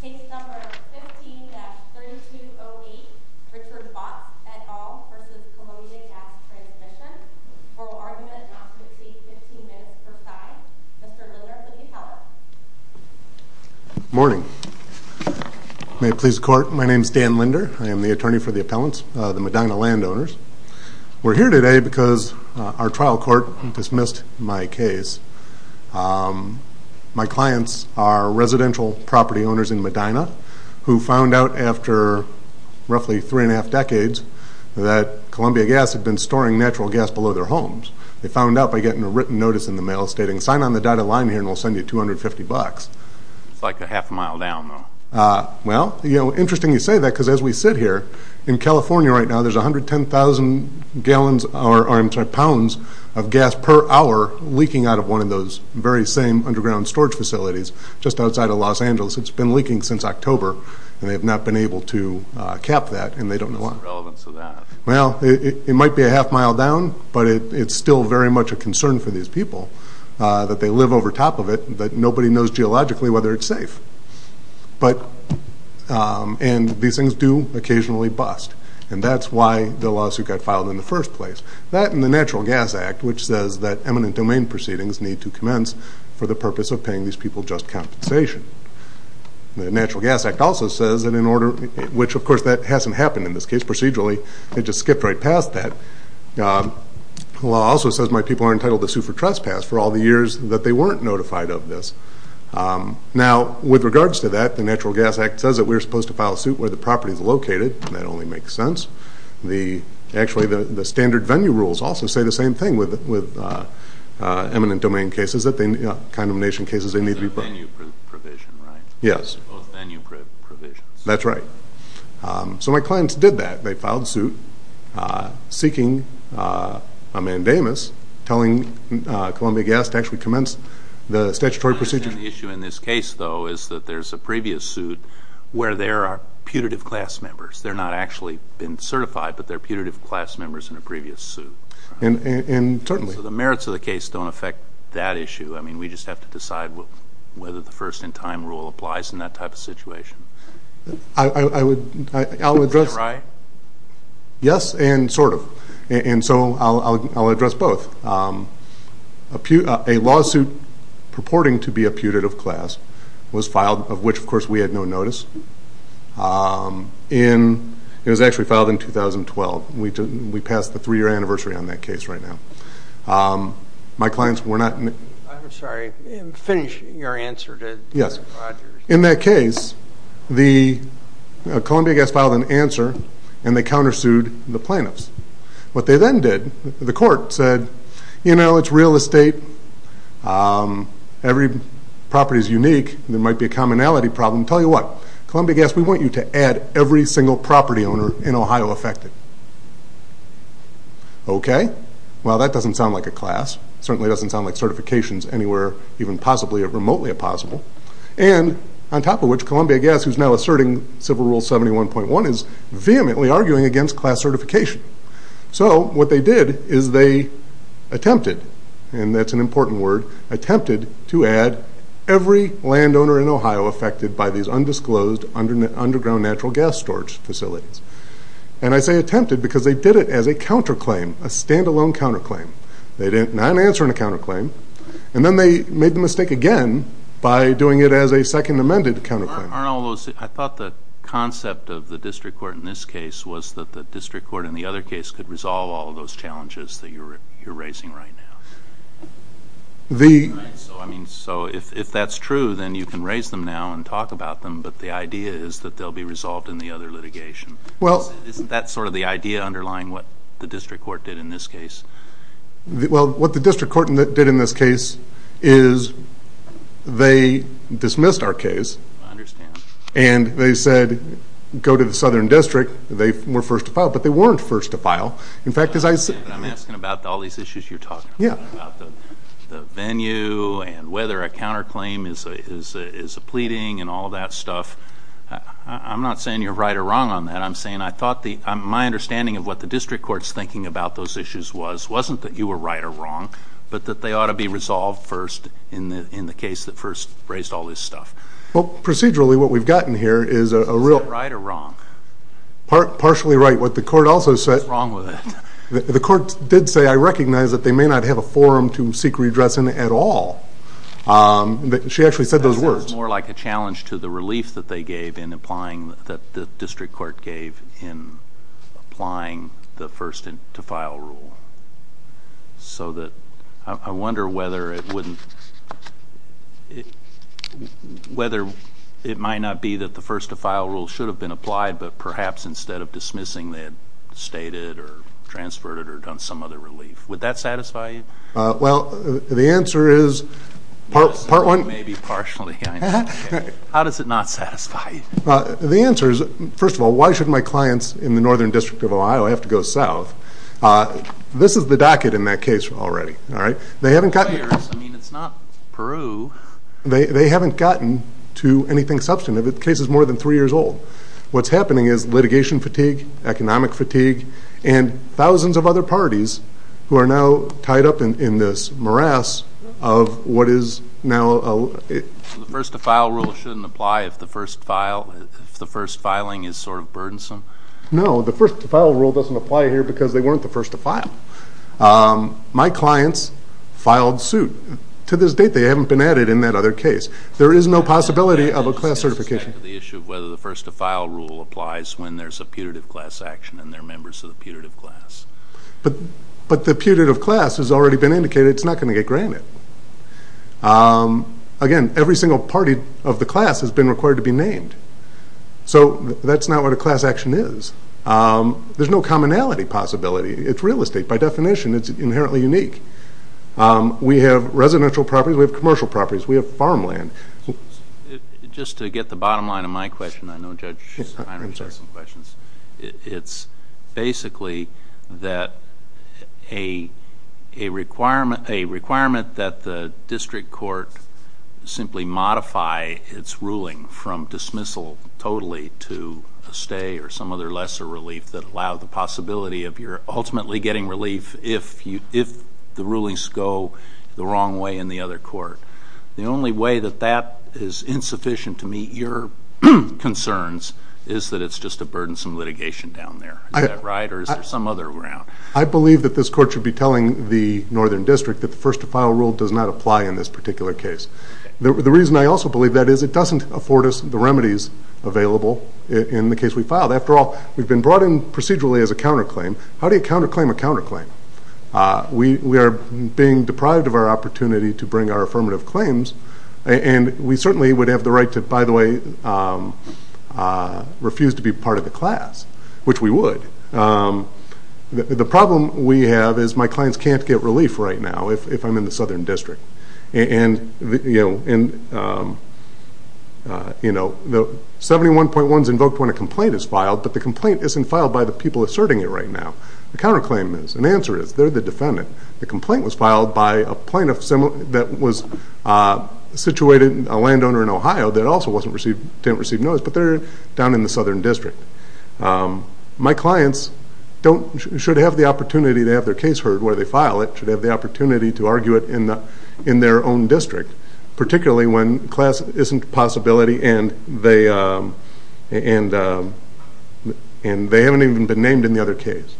Case number 15-3208, Richard Baatz, et al. v. Columbia Gas Transmission Oral argument on page 15, minutes per side. Mr. Linder, will you help us? Residential property owners in Medina, who found out after roughly three and a half decades that Columbia Gas had been storing natural gas below their homes. They found out by getting a written notice in the mail stating, sign on the dotted line here and we'll send you $250. It's like a half a mile down, though. Well, you know, interesting you say that because as we sit here, in California right now there's 110,000 pounds of gas per hour leaking out of one of those very same underground storage facilities just outside of Los Angeles. It's been leaking since October and they've not been able to cap that and they don't know why. What's the relevance of that? Well, it might be a half mile down, but it's still very much a concern for these people that they live over top of it, that nobody knows geologically whether it's safe. And these things do occasionally bust. And that's why the lawsuit got filed in the first place. That and the Natural Gas Act, which says that eminent domain proceedings need to commence for the purpose of paying these people just compensation. The Natural Gas Act also says that in order, which of course that hasn't happened in this case procedurally, they just skipped right past that. The law also says my people are entitled to sue for trespass for all the years that they weren't notified of this. Now, with regards to that, the Natural Gas Act says that we're supposed to file a suit where the property is located, and that only makes sense. Actually, the standard venue rules also say the same thing with eminent domain cases, condemnation cases. It's a venue provision, right? Yes. Both venue provisions. That's right. So my clients did that. They filed a suit seeking a mandamus telling Columbia Gas to actually commence the statutory procedure. The issue in this case, though, is that there's a previous suit where there are putative class members. They're not actually been certified, but they're putative class members in a previous suit. So the merits of the case don't affect that issue. I mean, we just have to decide whether the first-in-time rule applies in that type of situation. Is that right? Yes, and sort of. And so I'll address both. A lawsuit purporting to be a putative class was filed, of which, of course, we had no notice. It was actually filed in 2012. We passed the three-year anniversary on that case right now. My clients were not in it. I'm sorry. Finish your answer. Yes. In that case, Columbia Gas filed an answer, and they countersued the plaintiffs. What they then did, the court said, you know, it's real estate. Every property is unique. There might be a commonality problem. Tell you what, Columbia Gas, we want you to add every single property owner in Ohio affected. Okay. Well, that doesn't sound like a class. It certainly doesn't sound like certifications anywhere, even possibly remotely possible. And on top of which, Columbia Gas, who's now asserting Civil Rule 71.1, is vehemently arguing against class certification. So what they did is they attempted, and that's an important word, attempted to add every landowner in Ohio affected by these undisclosed underground natural gas storage facilities. And I say attempted because they did it as a counterclaim, a stand-alone counterclaim. They didn't answer in a counterclaim, and then they made the mistake again by doing it as a second amended counterclaim. I thought the concept of the district court in this case was that the district court in the other case could resolve all those challenges that you're raising right now. So if that's true, then you can raise them now and talk about them, but the idea is that they'll be resolved in the other litigation. Isn't that sort of the idea underlying what the district court did in this case? Well, what the district court did in this case is they dismissed our case. I understand. And they said go to the southern district. They were first to file, but they weren't first to file. I'm asking about all these issues you're talking about, about the venue and whether a counterclaim is a pleading and all that stuff. I'm not saying you're right or wrong on that. I'm saying my understanding of what the district court's thinking about those issues was wasn't that you were right or wrong, but that they ought to be resolved first in the case that first raised all this stuff. Well, procedurally what we've gotten here is a real – Is that right or wrong? Partially right. What the court also said – What's wrong with it? The court did say, I recognize that they may not have a forum to seek redress in at all. She actually said those words. That sounds more like a challenge to the relief that they gave in applying – that the district court gave in applying the first to file rule. I wonder whether it might not be that the first to file rule should have been applied, but perhaps instead of dismissing they had stated or transferred it or done some other relief. Would that satisfy you? Well, the answer is – Maybe partially. How does it not satisfy you? The answer is, first of all, why should my clients in the Northern District of Ohio have to go south? This is the docket in that case already. They haven't gotten – I mean, it's not Peru. They haven't gotten to anything substantive. The case is more than three years old. What's happening is litigation fatigue, economic fatigue, and thousands of other parties who are now tied up in this morass of what is now – The first to file rule shouldn't apply if the first filing is sort of burdensome? No. The first to file rule doesn't apply here because they weren't the first to file. My clients filed suit. To this date, they haven't been added in that other case. There is no possibility of a class certification. The issue of whether the first to file rule applies when there's a putative class action and they're members of the putative class. But the putative class has already been indicated. It's not going to get granted. Again, every single party of the class has been required to be named. So that's not what a class action is. There's no commonality possibility. It's real estate. By definition, it's inherently unique. We have residential properties. We have commercial properties. We have farmland. Just to get the bottom line of my question, I know Judge Heiner has some questions. It's basically that a requirement that the district court simply modify its ruling from dismissal totally to a stay or some other lesser relief that allow the possibility of your ultimately getting relief if the rulings go the wrong way in the other court. The only way that that is insufficient to meet your concerns is that it's just a burdensome litigation down there. Is that right or is there some other ground? I believe that this court should be telling the northern district that the first to file rule does not apply in this particular case. The reason I also believe that is it doesn't afford us the remedies available in the case we filed. After all, we've been brought in procedurally as a counterclaim. How do you counterclaim a counterclaim? We are being deprived of our opportunity to bring our affirmative claims, and we certainly would have the right to, by the way, refuse to be part of the class, which we would. The problem we have is my clients can't get relief right now if I'm in the southern district. 71.1 is invoked when a complaint is filed, but the complaint isn't filed by the people asserting it right now. The counterclaim is. The answer is. They're the defendant. The complaint was filed by a plaintiff that was situated, a landowner in Ohio that also didn't receive notice, but they're down in the southern district. My clients should have the opportunity to have their case heard where they file it, should have the opportunity to argue it in their own district, particularly when class isn't a possibility and they haven't even been named in the other case.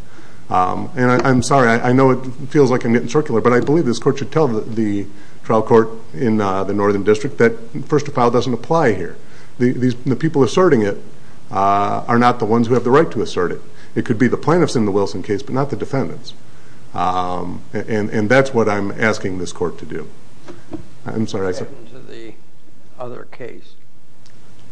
I'm sorry. I know it feels like I'm getting circular, but I believe this court should tell the trial court in the northern district that first to file doesn't apply here. The people asserting it are not the ones who have the right to assert it. It could be the plaintiffs in the Wilson case but not the defendants, and that's what I'm asking this court to do. I'm sorry. What happened to the other case?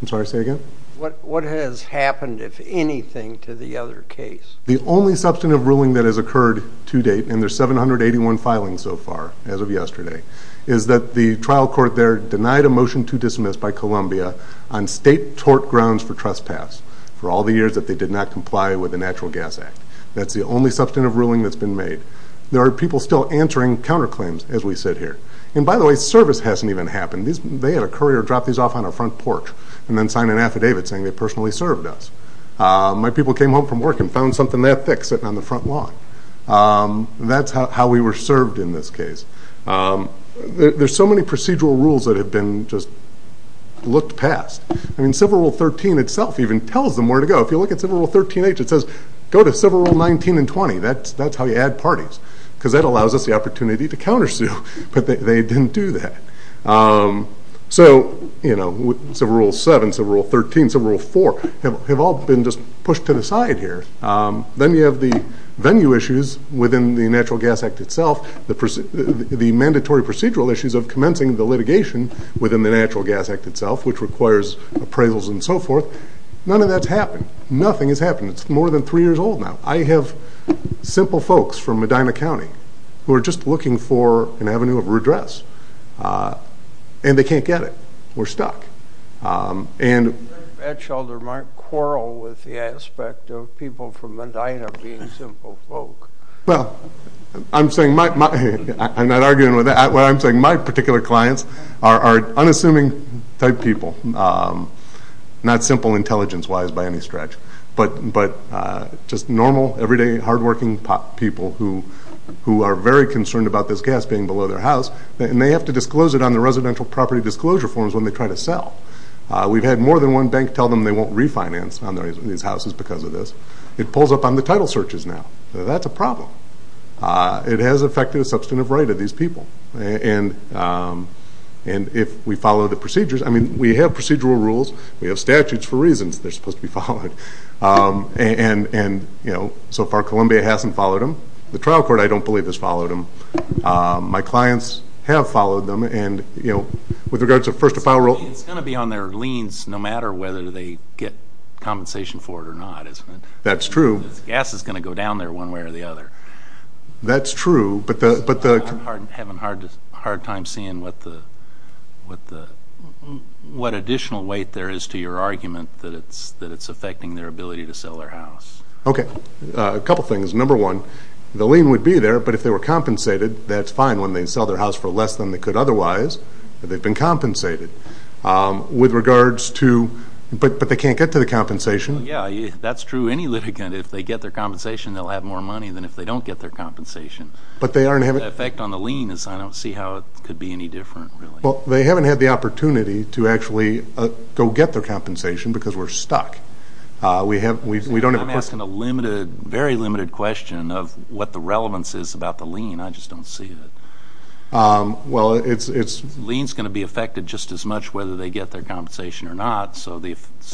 I'm sorry. Say again. What has happened, if anything, to the other case? The only substantive ruling that has occurred to date, and there's 781 filings so far as of yesterday, is that the trial court there denied a motion to dismiss by Columbia on state tort grounds for trespass for all the years that they did not comply with the Natural Gas Act. That's the only substantive ruling that's been made. There are people still answering counterclaims as we sit here. And by the way, service hasn't even happened. They had a courier drop these off on our front porch and then sign an affidavit saying they personally served us. My people came home from work and found something that thick sitting on the front lawn. That's how we were served in this case. There's so many procedural rules that have been just looked past. Civil Rule 13 itself even tells them where to go. If you look at Civil Rule 13H, it says go to Civil Rule 19 and 20. That's how you add parties because that allows us the opportunity to countersue, but they didn't do that. So Civil Rule 7, Civil Rule 13, Civil Rule 4 have all been just pushed to the side here. Then you have the venue issues within the Natural Gas Act itself, the mandatory procedural issues of commencing the litigation within the Natural Gas Act itself, which requires appraisals and so forth. None of that's happened. Nothing has happened. It's more than three years old now. I have simple folks from Medina County who are just looking for an avenue of redress, and they can't get it. We're stuck. Ed Scholder might quarrel with the aspect of people from Medina being simple folk. Well, I'm saying my particular clients are unassuming type people, not simple intelligence-wise by any stretch, but just normal, everyday, hardworking people who are very concerned about this gas being below their house, and they have to disclose it on the residential property disclosure forms when they try to sell. We've had more than one bank tell them they won't refinance on these houses because of this. It pulls up on the title searches now. That's a problem. It has affected the substantive right of these people, and if we follow the procedures, I mean, we have procedural rules, we have statutes for reasons they're supposed to be followed, and, you know, so far Columbia hasn't followed them. The trial court, I don't believe, has followed them. My clients have followed them, and, you know, with regards to first-of-file rules. It's going to be on their liens no matter whether they get compensation for it or not, isn't it? That's true. This gas is going to go down there one way or the other. That's true. I'm having a hard time seeing what additional weight there is to your argument that it's affecting their ability to sell their house. Okay. A couple things. Number one, the lien would be there, but if they were compensated, that's fine when they sell their house for less than they could otherwise, but they've been compensated. With regards to, but they can't get to the compensation. Yeah, that's true. To any litigant, if they get their compensation, they'll have more money than if they don't get their compensation. But they aren't having it. The effect on the lien is I don't see how it could be any different, really. Well, they haven't had the opportunity to actually go get their compensation because we're stuck. I'm asking a limited, very limited question of what the relevance is about the lien. I just don't see it. Well, it's... The lien is going to be affected just as much whether they get their compensation or not, so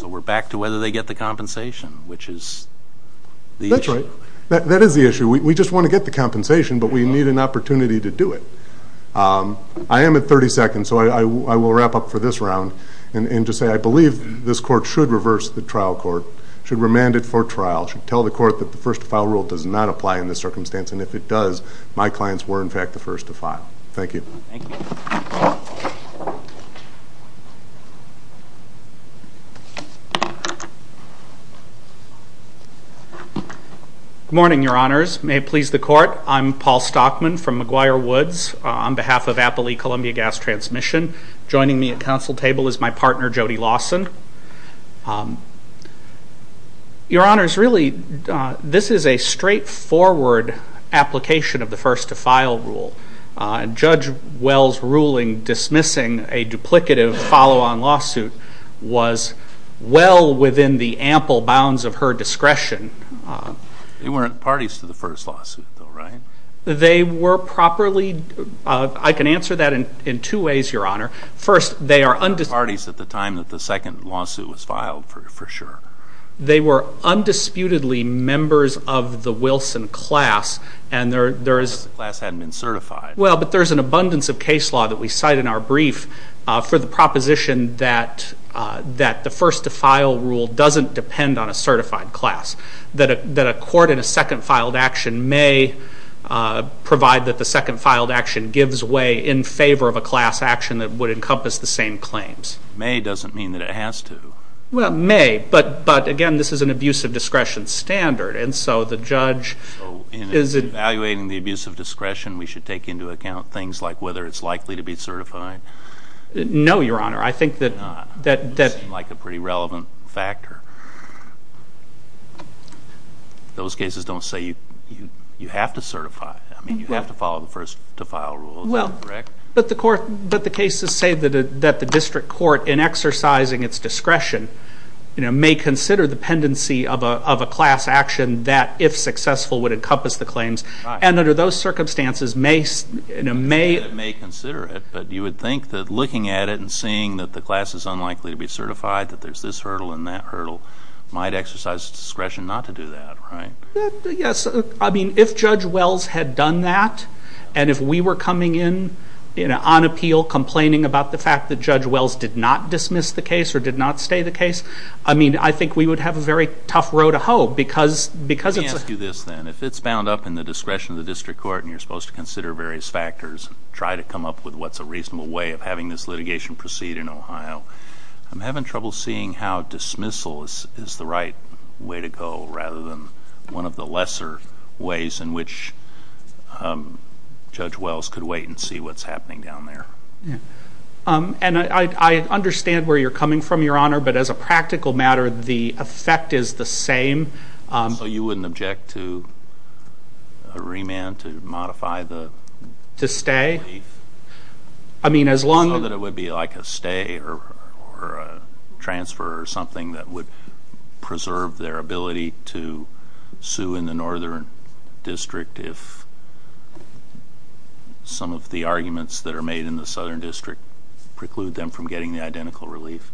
we're back to whether they get the compensation, which is the issue. That's right. That is the issue. We just want to get the compensation, but we need an opportunity to do it. I am at 30 seconds, so I will wrap up for this round and just say I believe this court should reverse the trial court, should remand it for trial, should tell the court that the first-to-file rule does not apply in this circumstance, and if it does, my clients were, in fact, the first to file. Thank you. Thank you. Good morning, Your Honors. May it please the court, I'm Paul Stockman from McGuire Woods. On behalf of Applee Columbia Gas Transmission, joining me at council table is my partner, Jody Lawson. Your Honors, really, this is a straightforward application of the first-to-file rule. Judge Wells' ruling dismissing a duplicative follow-on lawsuit was well within the ample bounds of her discretion. They weren't parties to the first lawsuit, though, right? They were properly. I can answer that in two ways, Your Honor. First, they are undisputed parties at the time that the second lawsuit was filed, for sure. They were undisputedly members of the Wilson class, and there is. The class hadn't been certified. Well, but there's an abundance of case law that we cite in our brief for the proposition that the first-to-file rule doesn't depend on a certified class, that a court in a second-filed action may provide that the second-filed action gives way in favor of a class action that would encompass the same claims. May doesn't mean that it has to. Well, may, but, again, this is an abuse of discretion standard, and so the judge is. In evaluating the abuse of discretion, we should take into account things like whether it's likely to be certified? No, Your Honor. I think that. It doesn't seem like a pretty relevant factor. Those cases don't say you have to certify. I mean, you have to follow the first-to-file rule. Is that correct? But the cases say that the district court, in exercising its discretion, may consider the pendency of a class action that, if successful, would encompass the claims. Right. And under those circumstances, may. May consider it, but you would think that looking at it and seeing that the class is unlikely to be certified, that there's this hurdle and that hurdle, might exercise discretion not to do that, right? Yes. I mean, if Judge Wells had done that, and if we were coming in on appeal complaining about the fact that Judge Wells did not dismiss the case or did not stay the case, I mean, I think we would have a very tough road to hoe because it's a... Let me ask you this, then. If it's bound up in the discretion of the district court and you're supposed to consider various factors, try to come up with what's a reasonable way of having this litigation proceed in Ohio, I'm having trouble seeing how dismissal is the right way to go rather than one of the lesser ways in which Judge Wells could wait and see what's happening down there. Yeah. And I understand where you're coming from, Your Honor, but as a practical matter, the effect is the same. So you wouldn't object to a remand to modify the belief? To stay? I mean, as long as... Or a transfer or something that would preserve their ability to sue in the northern district if some of the arguments that are made in the southern district preclude them from getting the identical relief?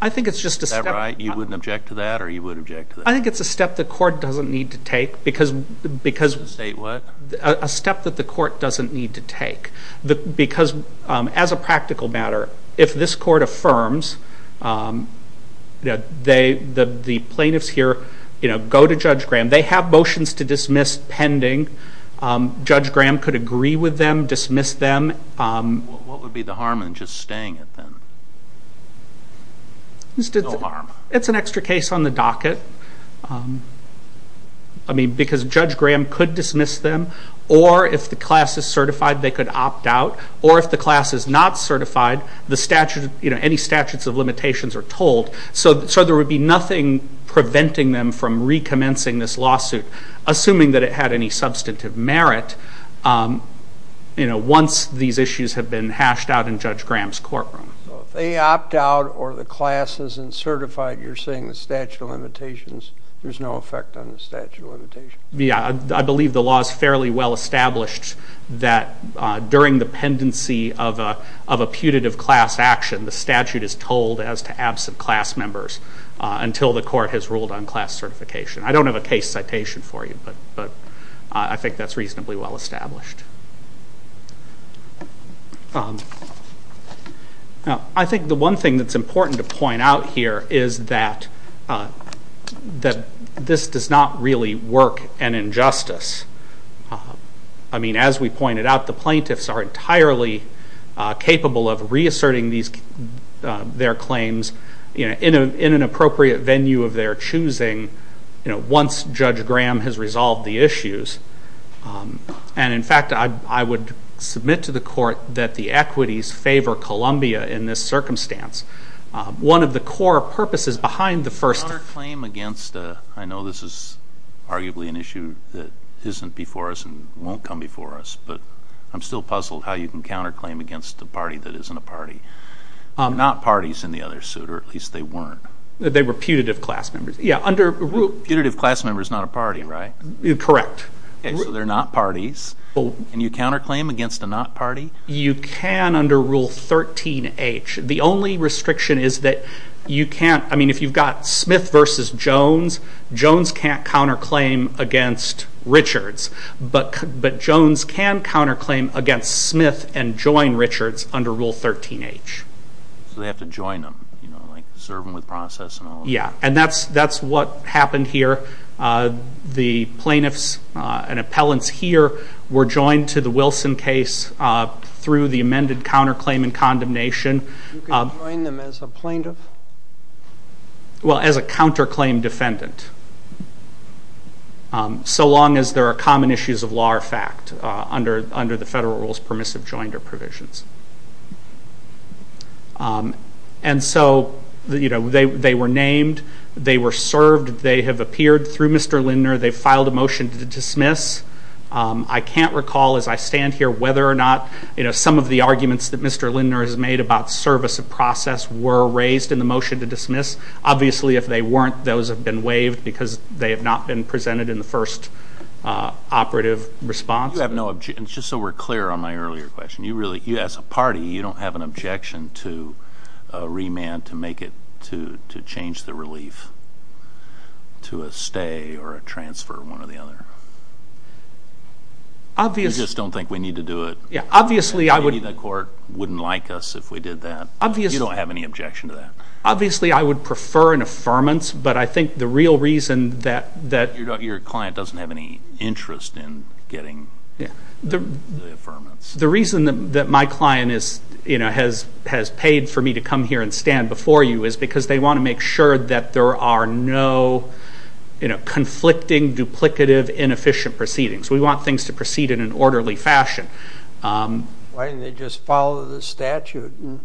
I think it's just a step... Is that right? You wouldn't object to that or you would object to that? I think it's a step the court doesn't need to take because... State what? A step that the court doesn't need to take. Because as a practical matter, if this court affirms that the plaintiffs here go to Judge Graham, they have motions to dismiss pending, Judge Graham could agree with them, dismiss them. What would be the harm in just staying at them? No harm. It's an extra case on the docket because Judge Graham could dismiss them or if the class is certified, they could opt out, or if the class is not certified, any statutes of limitations are told. So there would be nothing preventing them from recommencing this lawsuit, assuming that it had any substantive merit once these issues have been hashed out in Judge Graham's courtroom. So if they opt out or the class isn't certified, you're saying the statute of limitations, there's no effect on the statute of limitations? I believe the law is fairly well established that during the pendency of a putative class action, the statute is told as to absent class members until the court has ruled on class certification. I don't have a case citation for you, but I think that's reasonably well established. I think the one thing that's important to point out here is that this does not really work an injustice. I mean, as we pointed out, the plaintiffs are entirely capable of reasserting their claims in an appropriate venue of their choosing once Judge Graham has resolved the issues. And, in fact, I would submit to the court that the equities favor Columbia in this circumstance. One of the core purposes behind the first— Counterclaim against—I know this is arguably an issue that isn't before us and won't come before us, but I'm still puzzled how you can counterclaim against a party that isn't a party, not parties in the other suit, or at least they weren't. They were putative class members. Yeah, under— Putative class members, not a party, right? Correct. Okay, so they're not parties, and you counterclaim against a not party? You can under Rule 13H. The only restriction is that you can't—I mean, if you've got Smith v. Jones, Jones can't counterclaim against Richards, but Jones can counterclaim against Smith and join Richards under Rule 13H. So they have to join them, like serve them with process and all that? Yeah, and that's what happened here. The plaintiffs and appellants here were joined to the Wilson case through the amended counterclaim and condemnation. You can join them as a plaintiff? Well, as a counterclaim defendant, so long as there are common issues of law or fact under the federal rules permissive joinder provisions. And so, you know, they were named, they were served, they have appeared through Mr. Lindner, they filed a motion to dismiss. I can't recall as I stand here whether or not, you know, some of the arguments that Mr. Lindner has made about service of process were raised in the motion to dismiss. Obviously, if they weren't, those have been waived because they have not been presented in the first operative response. You have no—just so we're clear on my earlier question, you really—as a party, you don't have an objection to a remand to make it— to change the relief to a stay or a transfer, one or the other? Obviously— You just don't think we need to do it? Yeah, obviously I would— Maybe the court wouldn't like us if we did that? You don't have any objection to that? Obviously, I would prefer an affirmance, but I think the real reason that— Your client doesn't have any interest in getting the affirmance? The reason that my client has paid for me to come here and stand before you is because they want to make sure that there are no conflicting, duplicative, inefficient proceedings. We want things to proceed in an orderly fashion. Why didn't they just follow the statute and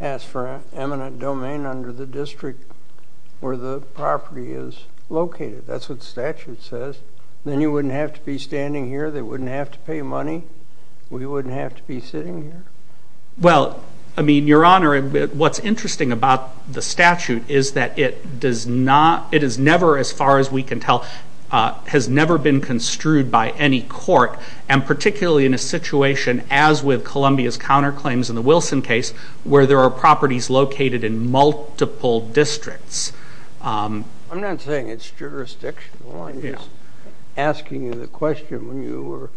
ask for an eminent domain under the district where the property is located? That's what the statute says. Then you wouldn't have to be standing here. They wouldn't have to pay money. We wouldn't have to be sitting here. Well, I mean, Your Honor, what's interesting about the statute is that it does not—it is never, as far as we can tell, has never been construed by any court, and particularly in a situation as with Columbia's counterclaims in the Wilson case where there are properties located in multiple districts. I'm not saying it's jurisdictional. I'm just asking you the question when you were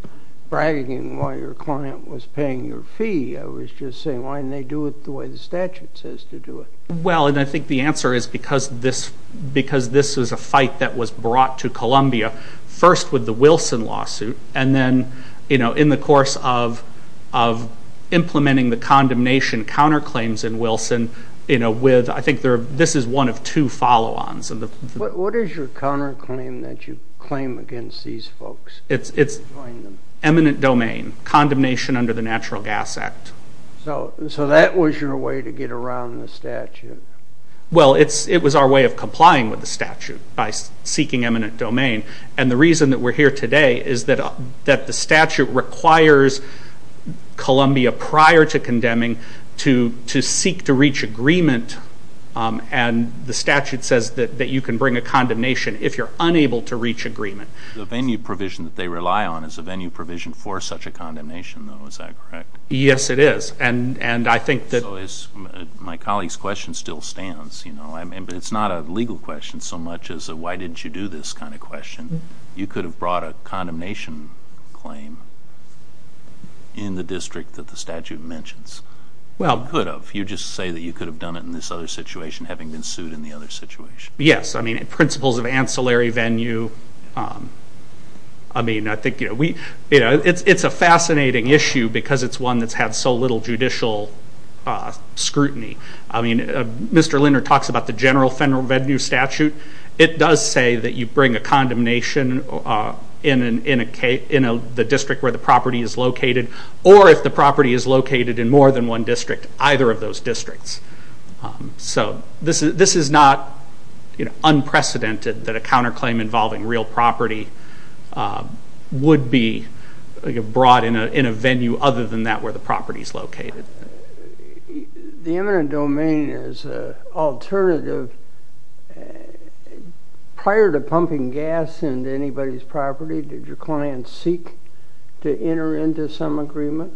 bragging why your client was paying your fee. I was just saying, why didn't they do it the way the statute says to do it? Well, and I think the answer is because this was a fight that was brought to Columbia, first with the Wilson lawsuit, and then in the course of implementing the condemnation counterclaims in Wilson, I think this is one of two follow-ons. What is your counterclaim that you claim against these folks? It's eminent domain, condemnation under the Natural Gas Act. So that was your way to get around the statute? Well, it was our way of complying with the statute by seeking eminent domain, and the reason that we're here today is that the statute requires Columbia, prior to condemning, to seek to reach agreement, and the statute says that you can bring a condemnation if you're unable to reach agreement. The venue provision that they rely on is a venue provision for such a condemnation, though. Is that correct? Yes, it is. So my colleague's question still stands. It's not a legal question so much as a why didn't you do this kind of question. You could have brought a condemnation claim in the district that the statute mentions. You just say that you could have done it in this other situation having been sued in the other situation. Yes, I mean, principles of ancillary venue, I mean, I think, you know, it's a fascinating issue because it's one that's had so little judicial scrutiny. I mean, Mr. Linder talks about the general federal venue statute. It does say that you bring a condemnation in the district where the property is located, or if the property is located in more than one district, either of those districts. So this is not unprecedented that a counterclaim involving real property would be brought in a venue other than that where the property is located. Prior to pumping gas into anybody's property, did your client seek to enter into some agreement?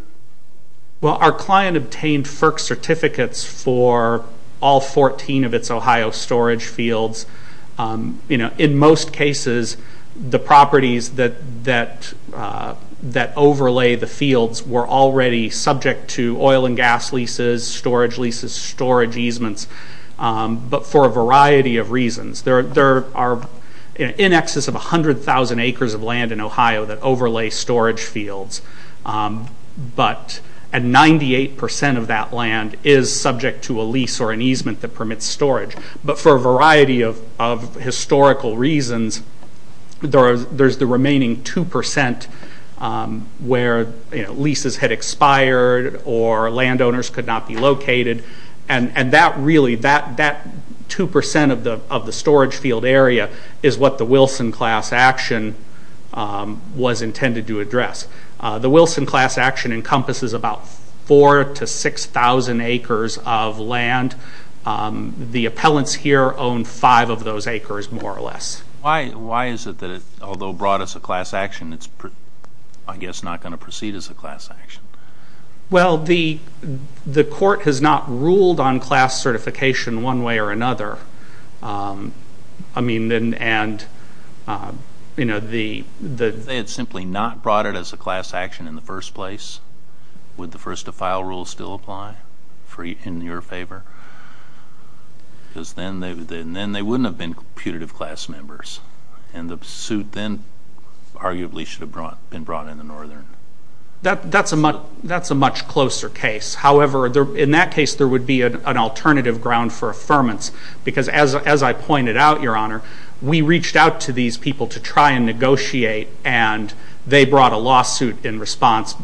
Well, our client obtained FERC certificates for all 14 of its Ohio storage fields. You know, in most cases, the properties that overlay the fields were already subject to oil and gas leases, storage leases, storage easements, but for a variety of reasons. There are in excess of 100,000 acres of land in Ohio that overlay storage fields, but 98% of that land is subject to a lease or an easement that permits storage. But for a variety of historical reasons, there's the remaining 2% where leases had expired or landowners could not be located, and that really, that 2% of the storage field area is what the Wilson class action was intended to address. The Wilson class action encompasses about 4,000 to 6,000 acres of land. The appellants here own five of those acres, more or less. Why is it that, although brought as a class action, it's, I guess, not going to proceed as a class action? Well, the court has not ruled on class certification one way or another. I mean, and, you know, the... If they had simply not brought it as a class action in the first place, would the first-to-file rule still apply in your favor? Because then they wouldn't have been putative class members, and the suit then arguably should have been brought in the northern. That's a much closer case. However, in that case, there would be an alternative ground for affirmance because, as I pointed out, Your Honor, we reached out to these people to try and negotiate, and they brought a lawsuit in response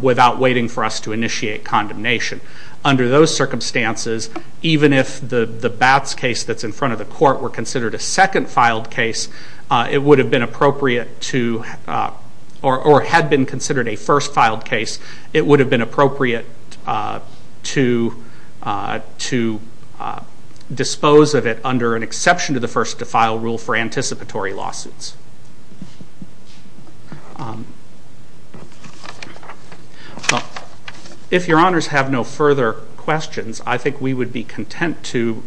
without waiting for us to initiate condemnation. Under those circumstances, even if the Batts case that's in front of the court were considered a second-filed case, it would have been appropriate to... or had been considered a first-filed case, it would have been appropriate to dispose of it under an exception to the first-to-file rule for anticipatory lawsuits. If Your Honors have no further questions, I think we would be content to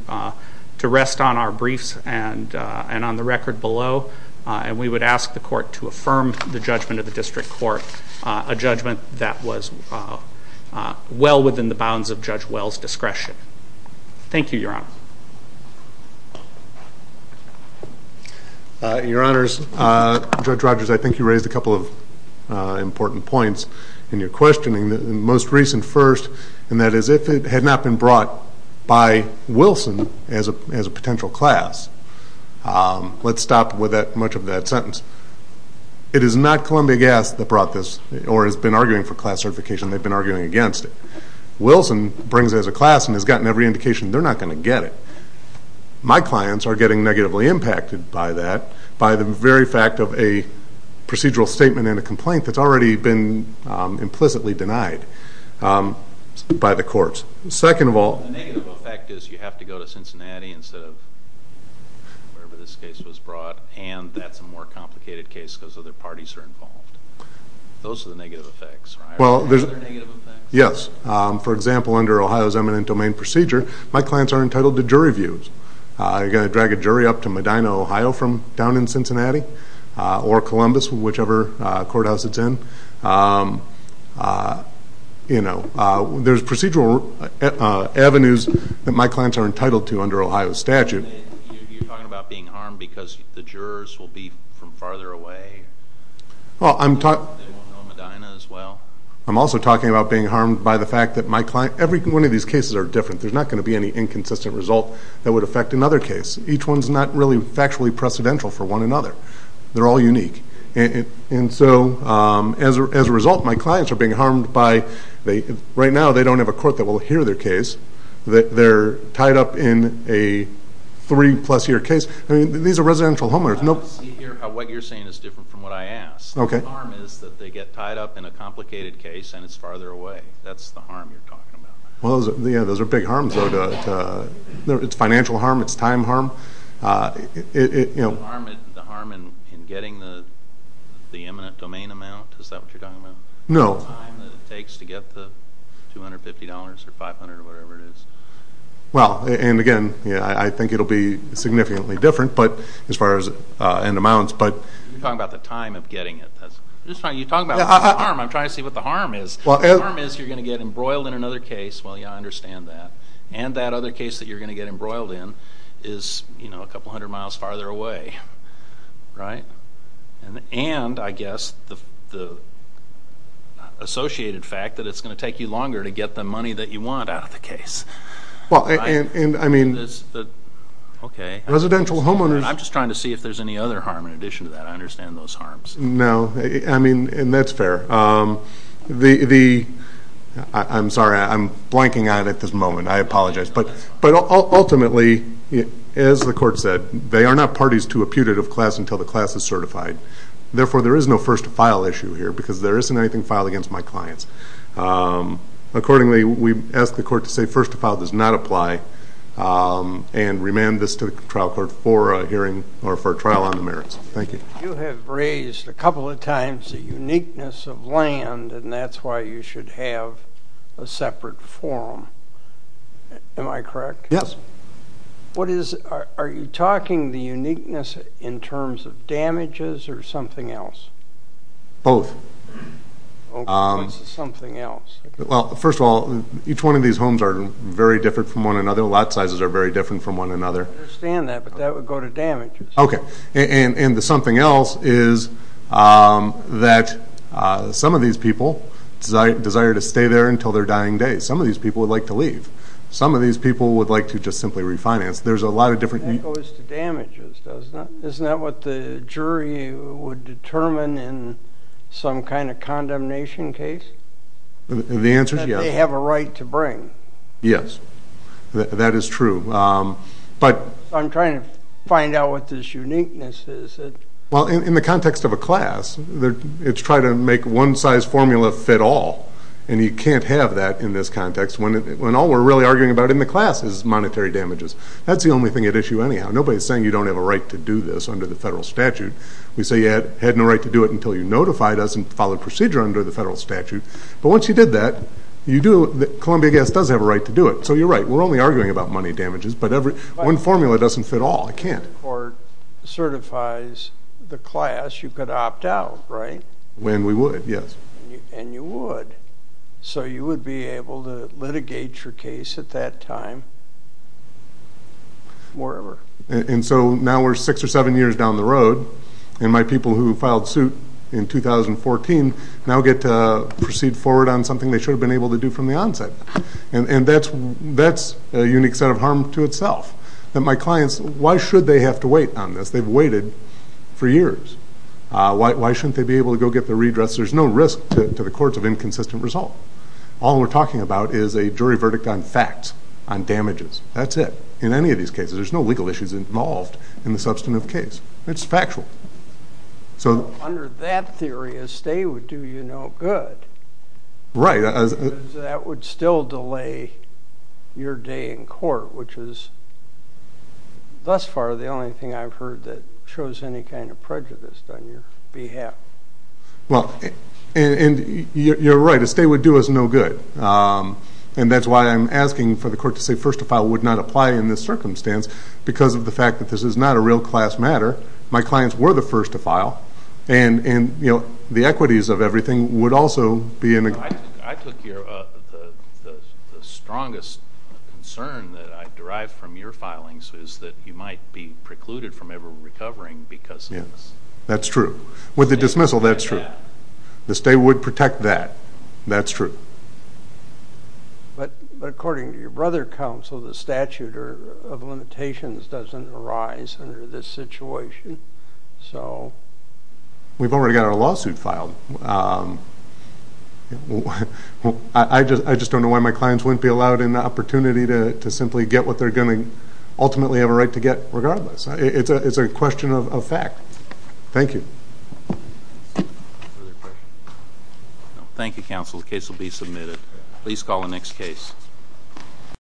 rest on our briefs and on the record below, and we would ask the Court to affirm the judgment of the District Court, a judgment that was well within the bounds of Judge Wells' discretion. Thank you, Your Honor. Your Honors, Judge Rogers, I think you raised a couple of important points in your questioning. The most recent first, and that is if it had not been brought by Wilson as a potential class. Let's stop with much of that sentence. It is not Columbia Gas that brought this, or has been arguing for class certification. They've been arguing against it. Wilson brings it as a class and has gotten every indication they're not going to get it. My clients are getting negatively impacted by that, by the very fact of a procedural statement and a complaint that's already been implicitly denied by the courts. Second of all... The negative effect is you have to go to Cincinnati instead of wherever this case was brought, and that's a more complicated case because other parties are involved. Those are the negative effects, right? Yes. For example, under Ohio's eminent domain procedure, my clients are entitled to jury views. You're going to drag a jury up to Medina, Ohio from down in Cincinnati, or Columbus, whichever courthouse it's in. There's procedural avenues that my clients are entitled to under Ohio's statute. You're talking about being harmed because the jurors will be from farther away. They won't know Medina as well. I'm also talking about being harmed by the fact that my client... Every one of these cases are different. There's not going to be any inconsistent result that would affect another case. Each one's not really factually precedential for one another. They're all unique. And so, as a result, my clients are being harmed by... Right now, they don't have a court that will hear their case. They're tied up in a three-plus-year case. These are residential homeowners. What you're saying is different from what I asked. The harm is that they get tied up in a complicated case and it's farther away. That's the harm you're talking about. Those are big harms, though. It's financial harm. It's time harm. The harm in getting the eminent domain amount? Is that what you're talking about? No. The time that it takes to get the $250 or $500 or whatever it is. Well, and again, I think it will be significantly different. As far as end amounts. You're talking about the time of getting it. You're talking about the harm. I'm trying to see what the harm is. The harm is you're going to get embroiled in another case. Well, yeah, I understand that. And that other case that you're going to get embroiled in is a couple hundred miles farther away. Right? And, I guess, the associated fact that it's going to take you longer to get the money that you want out of the case. And, I mean, residential homeowners. I'm just trying to see if there's any other harm in addition to that. I understand those harms. No. I mean, and that's fair. I'm sorry. I'm blanking out at this moment. I apologize. But, ultimately, as the court said, they are not parties to a putative class until the class is certified. Therefore, there is no first-to-file issue here because there isn't anything filed against my clients. Accordingly, we ask the court to say first-to-file does not apply and remand this to the trial court for a hearing or for a trial on the merits. Thank you. You have raised a couple of times the uniqueness of land, and that's why you should have a separate forum. Am I correct? Yes. What is it? Are you talking the uniqueness in terms of damages or something else? Both. Okay. What's the something else? Well, first of all, each one of these homes are very different from one another. Lot sizes are very different from one another. I understand that, but that would go to damages. Okay. And the something else is that some of these people desire to stay there until their dying day. Some of these people would like to leave. Some of these people would like to just simply refinance. There's a lot of different. That goes to damages, doesn't it? Isn't that what the jury would determine in some kind of condemnation case? The answer is yes. That they have a right to bring. Yes. That is true. I'm trying to find out what this uniqueness is. Well, in the context of a class, it's trying to make one-size-formula fit all, and you can't have that in this context when all we're really arguing about in the class is monetary damages. That's the only thing at issue anyhow. Nobody's saying you don't have a right to do this under the federal statute. We say you had no right to do it until you notified us and followed procedure under the federal statute. But once you did that, Columbia Gas does have a right to do it. So you're right. We're only arguing about money damages, but one formula doesn't fit all. It can't. If the court certifies the class, you could opt out, right? When we would, yes. And you would. So you would be able to litigate your case at that time wherever. And so now we're six or seven years down the road, and my people who filed suit in 2014 now get to proceed forward on something they should have been able to do from the onset. And that's a unique set of harm to itself. My clients, why should they have to wait on this? They've waited for years. Why shouldn't they be able to go get their redress? There's no risk to the courts of inconsistent result. All we're talking about is a jury verdict on facts, on damages. That's it. In any of these cases, there's no legal issues involved in the substantive case. It's factual. Under that theory, a stay would do you no good. Right. Because that would still delay your day in court, which is thus far the only thing I've heard that shows any kind of prejudice on your behalf. Well, and you're right. A stay would do us no good. And that's why I'm asking for the court to say first to file would not apply in this circumstance because of the fact that this is not a real class matter. My clients were the first to file. And, you know, the equities of everything would also be in a good place. I took the strongest concern that I derived from your filings is that you might be precluded from ever recovering because of this. Yes, that's true. With the dismissal, that's true. The stay would protect that. That's true. But according to your brother counsel, the statute of limitations doesn't arise under this situation. So we've already got our lawsuit filed. I just don't know why my clients wouldn't be allowed an opportunity to simply get what they're going to ultimately have a right to get regardless. It's a question of fact. Thank you. Thank you, counsel. The case will be submitted. Please call the next case.